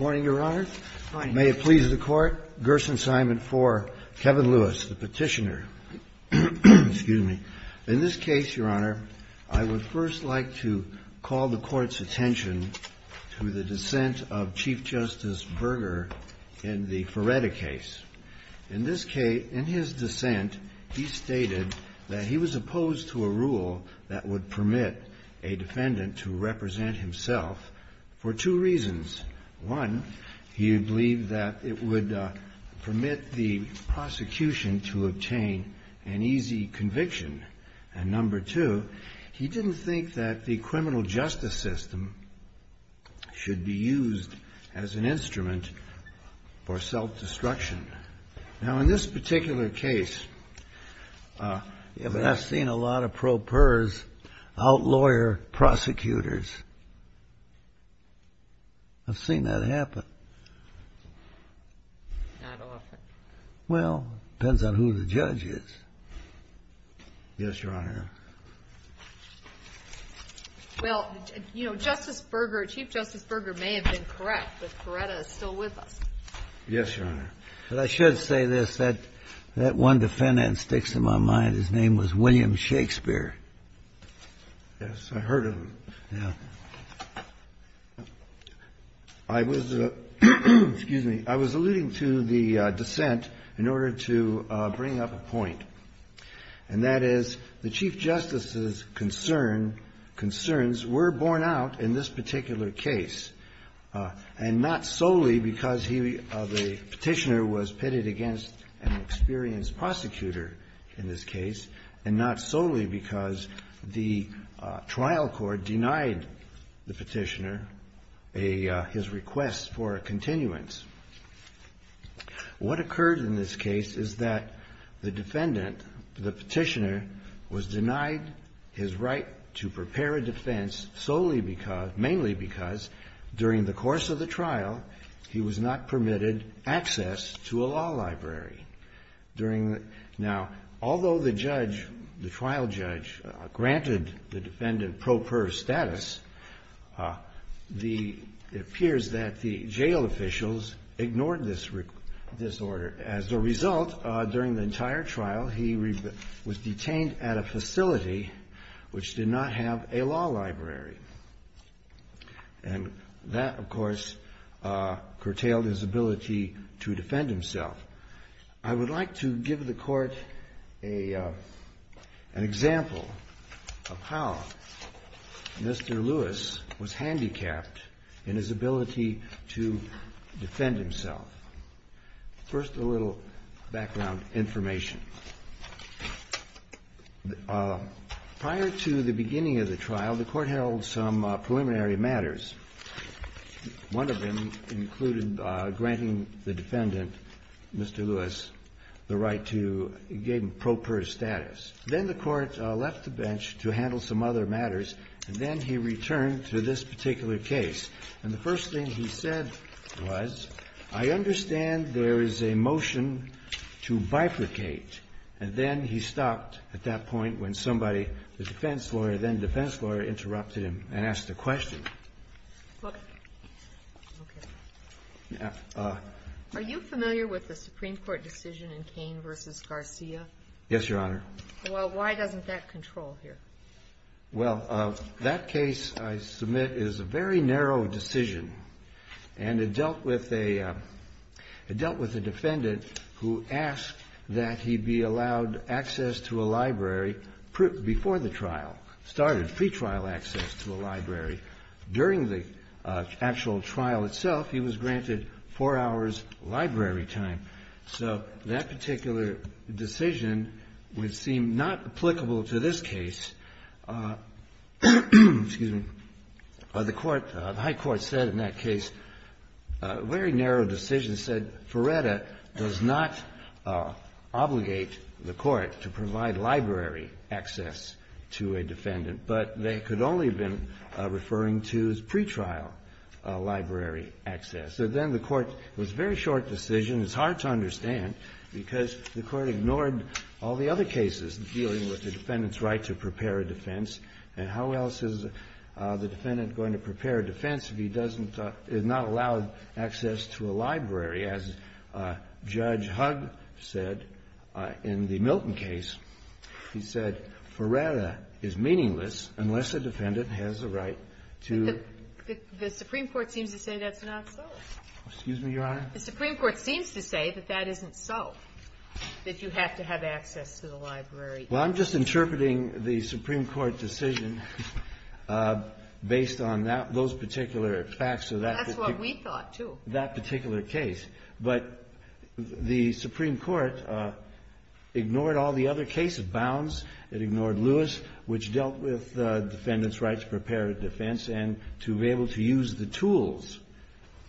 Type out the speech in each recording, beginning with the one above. May it please the Court, Gerson's Assignment 4, Kevin Lewis, the Petitioner. In this case, Your Honor, I would first like to call the Court's attention to the dissent of Chief Justice Berger in the Ferretta case. In his dissent, he stated that he was opposed to a rule that would permit a defendant to represent himself for two reasons. One, he believed that it would permit the prosecution to obtain an easy conviction. And number two, he didn't think that the criminal justice system should be used as an instrument for self-destruction. Now, in this particular case... Yeah, but I've seen a lot of pro-pers outlaw your prosecutors. I've seen that happen. Not often. Well, depends on who the judge is. Yes, Your Honor. Well, you know, Justice Berger, Chief Justice Berger may have been correct, but Ferretta is still with us. Yes, Your Honor. But I should say this, that one defendant that sticks in my mind, his name was William Shakespeare. Yes, I heard of him. Yeah. I was the Excuse me. I was alluding to the dissent in order to bring up a point, and that is, the Chief Justice's concern, concerns were borne out in this particular case, and not solely because the Petitioner was pitted against an experienced prosecutor in this case, and not solely because the trial court denied the Petitioner his request for a continuance. What occurred in this case is that the defendant, the Petitioner, was denied his right to prepare a defense solely because, mainly because, during the course of the trial, he was not permitted access to a law library. During the – now, although the judge, the trial judge granted the defendant pro-pers status, the – it appears that the jail officials ignored this order. As a result, during the entire trial, he was detained at a facility which did not have a law library, and that, of course, curtailed his ability to defend himself. I would like to give the Court an example of how Mr. Lewis was handicapped in his ability to defend himself. First, a little background information. Prior to the beginning of the trial, the Court held some preliminary matters. One of them included granting the defendant, Mr. Lewis, the right to gain pro-pers status. Then the Court left the bench to handle some other matters, and then he returned to this particular case. And the first thing he said was, I understand there is a motion to bifurcate. And then he stopped at that point when somebody, the defense lawyer, then defense lawyer, interrupted him and asked a question. Okay. Are you familiar with the Supreme Court decision in Cain v. Garcia? Yes, Your Honor. Well, why doesn't that control here? Well, that case I submit is a very narrow decision, and it dealt with a defendant who asked that he be allowed access to a library before the trial started, pre-trial access to a library. During the actual trial itself, he was granted four hours' library time. So that particular decision would seem not applicable to this case. The High Court said in that case, a very narrow decision, said Ferretta does not obligate the Court to provide library access to a defendant, but they could only have been referring to his pre-trial library access. So then the Court, it was a very short decision. It's hard to understand because the Court ignored all the other cases dealing with the defendant's right to prepare a defense. And how else is the defendant going to prepare a defense if he does not allow access to a library? As Judge Hugg said in the Milton case, he said Ferretta is meaningless unless a defendant has the right to... But the Supreme Court seems to say that's not so. Excuse me, Your Honor? The Supreme Court seems to say that that isn't so, that you have to have access to the library. Well, I'm just interpreting the Supreme Court decision based on those particular facts. That's what we thought, too. That particular case. But the Supreme Court ignored all the other cases, bounds. It ignored Lewis, which dealt with the defendant's right to prepare a defense and to be able to use the tools,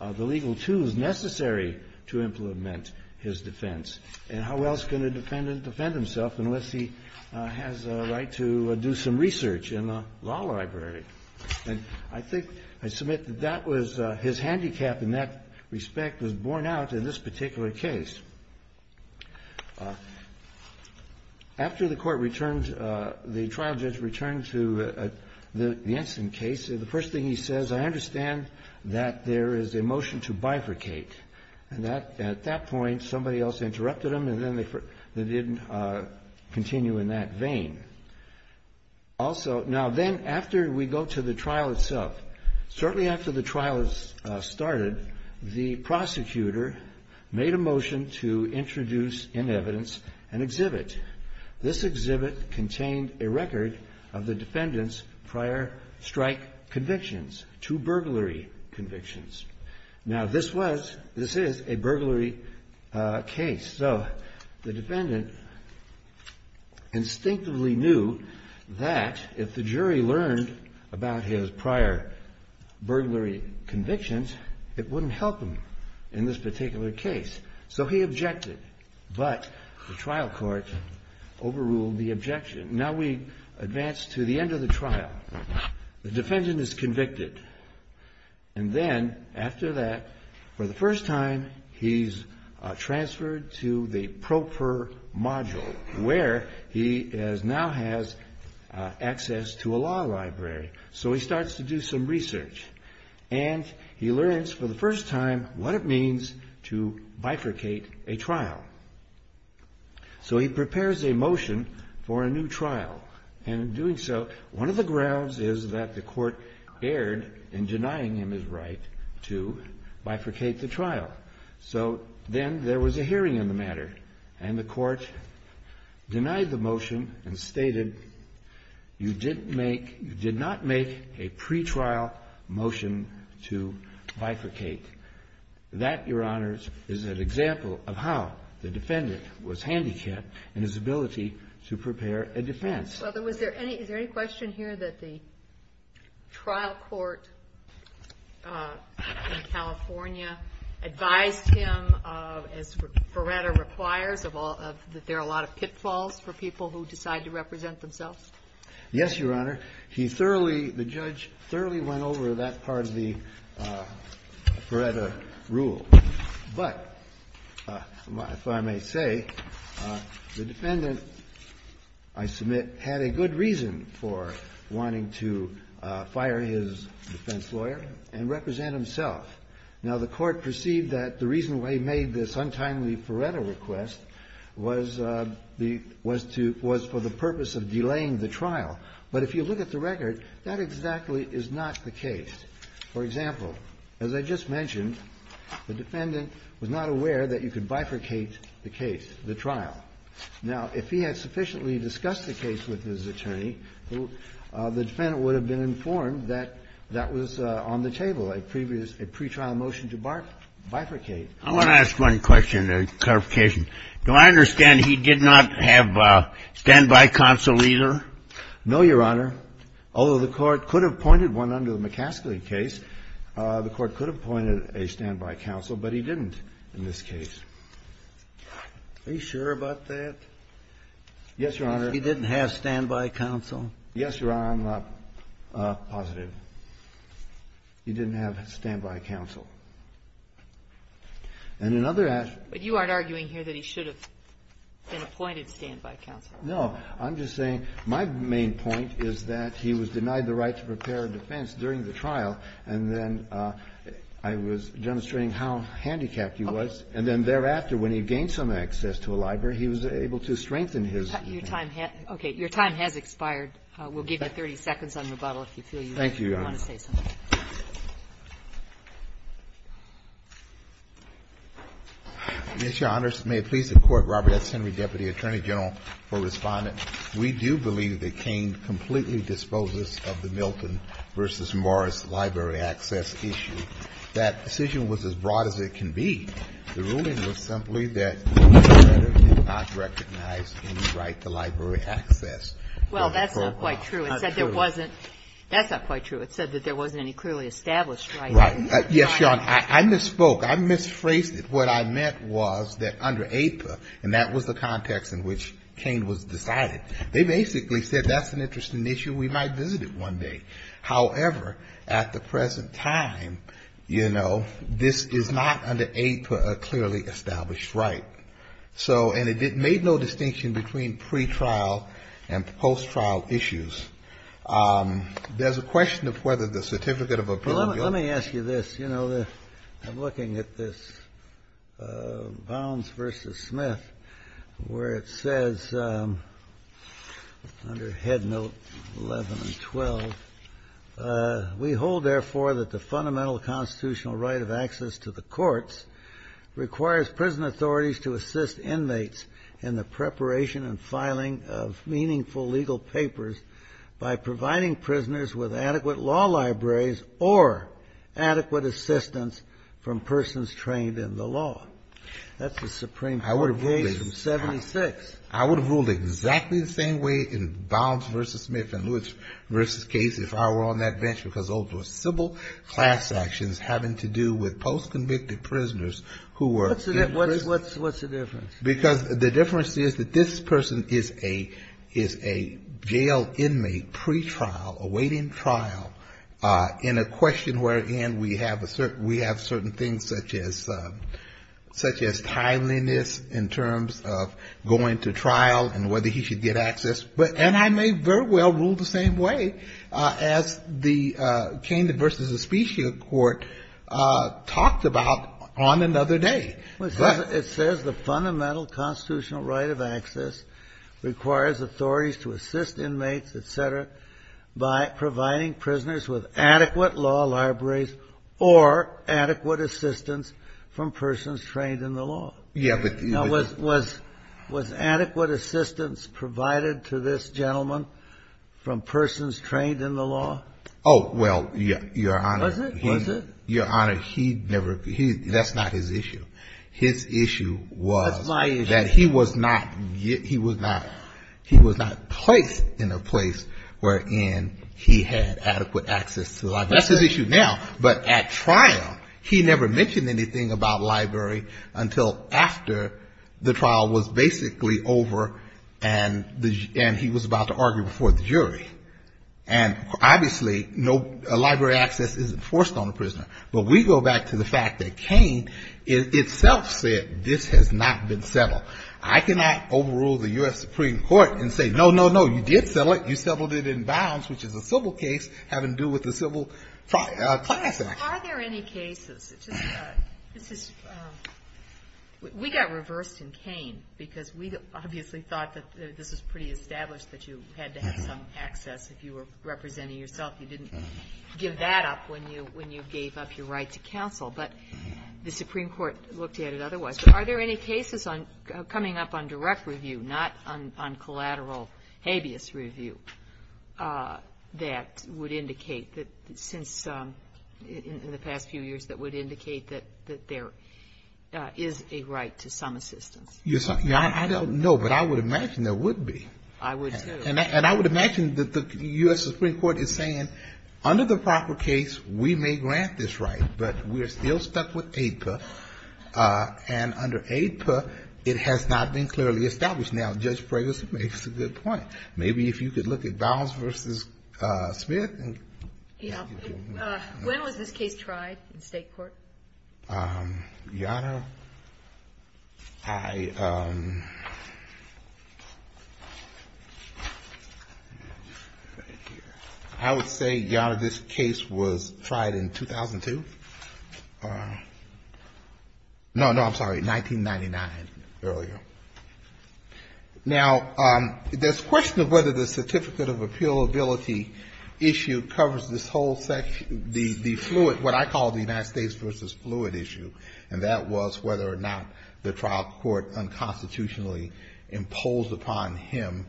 the legal tools necessary to implement his defense. And how else can a defendant defend himself unless he has a right to do some research in a law library? And I think I submit that that was his handicap in that respect was borne out in this particular case. After the Court returned, the trial judge returned to the Ensign case, the first thing he says, I understand that there is a motion to bifurcate. And that at that point, somebody else interrupted him, and then they didn't continue in that vein. Also, now then, after we go to the trial itself, shortly after the trial started, the prosecutor made a motion to introduce in evidence an exhibit. This exhibit contained a record of the defendant's prior strike convictions, two burglary convictions. Now, this was, this is a he knew that if the jury learned about his prior burglary convictions, it wouldn't help him in this particular case. So he objected. But the trial court overruled the objection. Now we advance to the end of the trial. The defendant is convicted. And then after that, for the first time, he's transferred to the pro per module, where he is now has access to a law library. So he starts to do some research. And he learns for the first time what it means to bifurcate a trial. So he prepares a motion for a new trial. And in doing so, one of the to bifurcate the trial. So then there was a hearing on the matter. And the court denied the motion and stated, you did not make a pretrial motion to bifurcate. That, Your Honors, is an example of how the defendant was handicapped in his ability to prepare a defense. Well, then, was there any, is there any question here that the trial court in California advised him, as Feretta requires, of all of, that there are a lot of pitfalls for people who decide to represent themselves? Yes, Your Honor. He thoroughly, the judge thoroughly went over that part of the Feretta rule. But if I may say, the defendant, I submit, had a good reason for wanting to fire his defense lawyer and represent himself. Now, the Court perceived that the reason why he made this untimely Feretta request was the, was to, was for the purpose of delaying the trial. But if you look at the record, that exactly is not the case. For example, as I just mentioned, the defendant was not aware that you could bifurcate the case, the trial. Now, if he had sufficiently discussed the case with his attorney, the defendant would have been informed that that was on the table, a pretrial motion to bifurcate. I want to ask one question in clarification. Do I understand he did not have standby counsel either? No, Your Honor. Although the Court could have pointed one under the McCaskill case, the Court could have pointed a standby counsel, but he didn't in this case. Are you sure about that? Yes, Your Honor. He didn't have standby counsel? Yes, Your Honor. I'm positive. He didn't have standby counsel. And in other aspects of the case, he did not have standby counsel. But you aren't arguing here that he should have been appointed standby counsel? No. I'm just saying my main point is that he was denied the right to prepare a defense during the trial, and then I was demonstrating how handicapped he was, and then thereafter, when he gained some access to a library, he was able to strengthen his defense. Okay. Your time has expired. We'll give you 30 seconds on rebuttal if you feel you want to say something. Thank you, Your Honor. Yes, Your Honor. May it please the Court, Robert S. Henry, Deputy Attorney General, for Respondent. We do believe that Kaine completely disposes of the Milton v. Morris library access issue. That decision was as broad as it can be. The ruling was simply that the letter did not recognize any right to library access. Well, that's not quite true. It said there wasn't. That's not quite true. It said that there wasn't any clearly established right. Yes, Your Honor. I misspoke. I misphrased it. What I meant was that under APA, and that was the context in which Kaine was decided, they basically said that's an interesting issue. We might visit it one day. However, at the present time, you know, this is not under APA a clearly established right. So, and it made no distinction between pretrial and post-trial issues. There's a question of whether the certificate of appeal. Let me ask you this. You know, I'm looking at this Bounds v. Smith where it says under head note 11 and 12, we hold, therefore, that the fundamental constitutional right of access to the courts requires prison authorities to assist inmates in the preparation and filing of meaningful legal papers by providing prisoners with adequate law libraries or adequate assistance from persons trained in the law. That's the Supreme Court of the age of 76. I would have ruled exactly the same way in Bounds v. Smith and Lewis v. Case if I were on that bench because those were civil class actions having to do with post-convicted prisoners who were in prison. What's the difference? Because the difference is that this person is a jail inmate pretrial awaiting trial in a question wherein we have a certain, we have certain things such as, such as timeliness in terms of going to trial and whether he should get access. And I may very well rule the same way as the Candon v. Aspecia Court talked about on another day. It says the fundamental constitutional right of access requires authorities to assist inmates, et cetera, by providing prisoners with adequate law libraries or adequate assistance from persons trained in the law. Now, was adequate assistance provided to this gentleman from persons trained in the law? Oh, well, Your Honor. Was it? Was it? Well, Your Honor, he never, that's not his issue. His issue was... That's my issue. ...that he was not, he was not placed in a place wherein he had adequate access to libraries. That's his issue now. But at trial, he never mentioned anything about library until after the trial was basically over and he was about to argue before the jury. And obviously, no library access is enforced on a prisoner. But we go back to the fact that Kane itself said this has not been settled. I cannot overrule the U.S. Supreme Court and say, no, no, no, you did settle it. You settled it in bounds, which is a civil case having to do with the Civil Class Act. Are there any cases? This is, we got reversed in Kane because we obviously thought that this was pretty established, that you had to have some access if you were representing yourself. You didn't give that up when you gave up your right to counsel. But the Supreme Court looked at it otherwise. Are there any cases coming up on direct review, not on collateral habeas review, that would indicate that since, in the past few years, that would indicate that there is a right to some assistance? Your Honor, I don't know, but I would imagine there would be. I would, too. And I would imagine that the U.S. Supreme Court is saying, under the proper case, we may grant this right, but we're still stuck with AIPA. And under AIPA, it has not been clearly established. Now, Judge Prager makes a good point. Maybe if you could look at Bounds v. Smith. Yes. When was this case tried in State court? Your Honor, I would say, Your Honor, this case was tried in 2002. No, no, I'm sorry, 1999, earlier. Now, there's a question of whether the certificate of appealability issue covers this whole section. The fluid, what I call the United States v. fluid issue, and that was whether or not the trial court unconstitutionally imposed upon him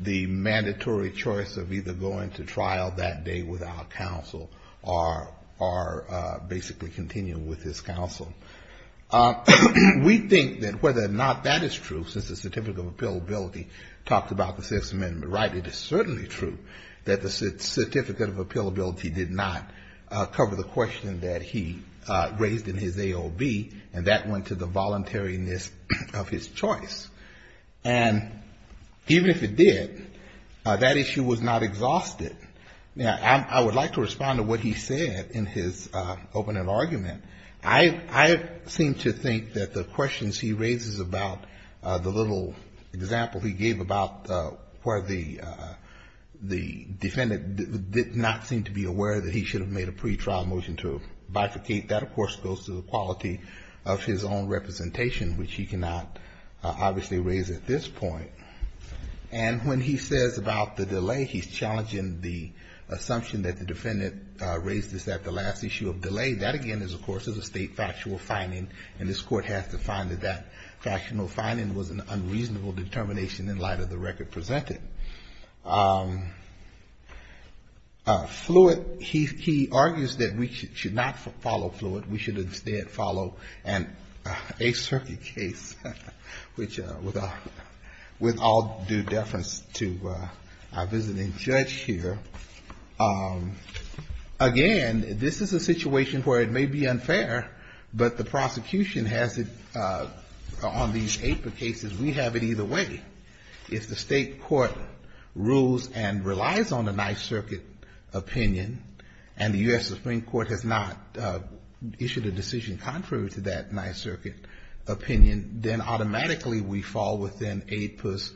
the mandatory choice of either going to trial that day without counsel or basically continuing with his counsel. We think that whether or not that is true, since the certificate of appealability talked about the Sixth Amendment right, it is certainly true that the certificate of appealability did not cover the question that he raised in his AOB, and that went to the voluntariness of his choice. And even if it did, that issue was not exhausted. Now, I would like to respond to what he said in his opening argument. I seem to think that the questions he raises about the little example he gave about where the defendant did not seem to be aware that he should have made a pretrial motion to bifurcate, that, of course, goes to the quality of his own representation, which he cannot obviously raise at this point. And when he says about the delay, he's challenging the assumption that the defendant raised this at the last issue of delay. That, again, of course, is a state factual finding, and this Court has to find that that factional finding was an unreasonable determination in light of the record presented. Fluid, he argues that we should not follow Fluid. We should instead follow an Ace Circuit case, which, with all due deference to our visiting judge here, again, this is a situation where it may be unfair, but the prosecution has it on these APA cases. We have it either way. If the state court rules and relies on an Ace Circuit opinion, and the U.S. Supreme Court has not issued a decision contrary to that Ace Circuit opinion, then automatically we fall within APA's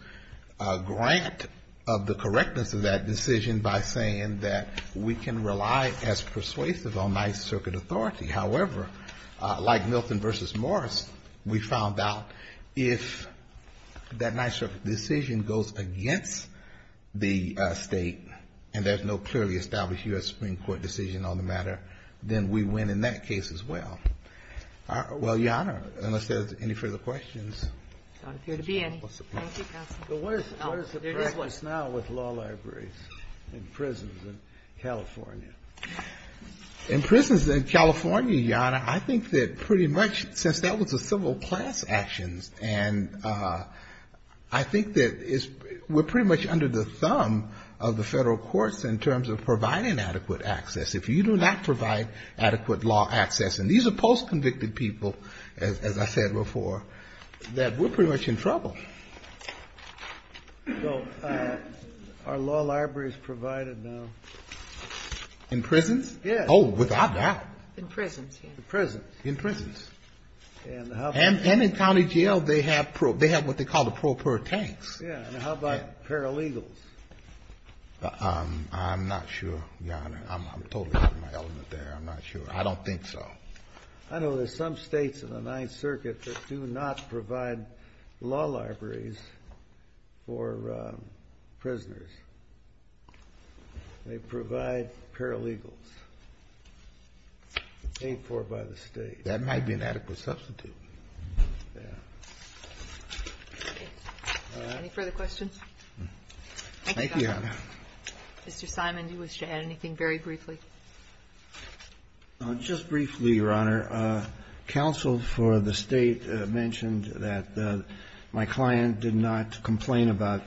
grant of the correctness of that decision by saying that we can rely as persuasive on Ace Circuit authority. However, like Milton v. Morris, we found out if that Ace Circuit decision goes against the state, and there's no clearly established U.S. Supreme Court decision on the matter, then we win in that case as well. Well, Your Honor, unless there's any further questions. Thank you, counsel. There is one. What is the practice now with law libraries in prisons in California? In prisons in California, Your Honor, I think that pretty much since that was a civil class action, and I think that we're pretty much under the thumb of the Federal courts in terms of providing adequate access. If you do not provide adequate law access, and these are post-convicted people, as I said before, that we're pretty much in trouble. So are law libraries provided now? In prisons? Yes. Oh, without doubt. In prisons. In prisons. In prisons. And in county jail, they have what they call the pro per tanks. Yes. And how about paralegals? I'm not sure, Your Honor. I'm totally out of my element there. I'm not sure. I don't think so. I know there's some States in the Ninth Circuit that do not provide law libraries for prisoners. They provide paralegals paid for by the State. That might be an adequate substitute. Yes. Any further questions? Thank you, Your Honor. Mr. Simon, do you wish to add anything very briefly? Just briefly, Your Honor. Counsel for the State mentioned that my client did not complain about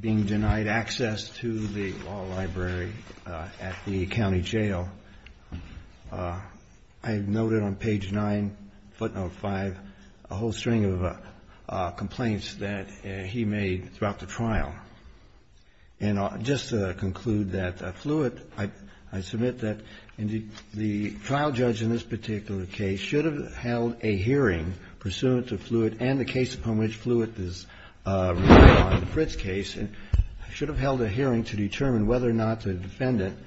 being denied access to the law library at the county jail. I noted on page 9, footnote 5, a whole string of complaints that he made throughout the trial. And just to conclude that, Fluitt, I submit that the trial judge in this particular case should have held a hearing pursuant to Fluitt and the case upon which Fluitt is relied on in Fritz's case, and should have held a hearing to determine whether or not the defendant,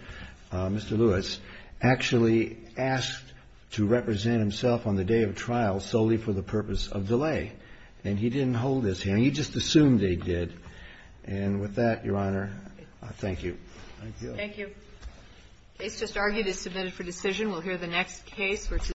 Mr. Lewis, actually asked to represent himself on the day of trial solely for the purpose of delay. And he didn't hold his hearing. He just assumed they did. And with that, Your Honor, thank you. Thank you. Thank you. The case just argued is submitted for decision. We'll hear the next case for today.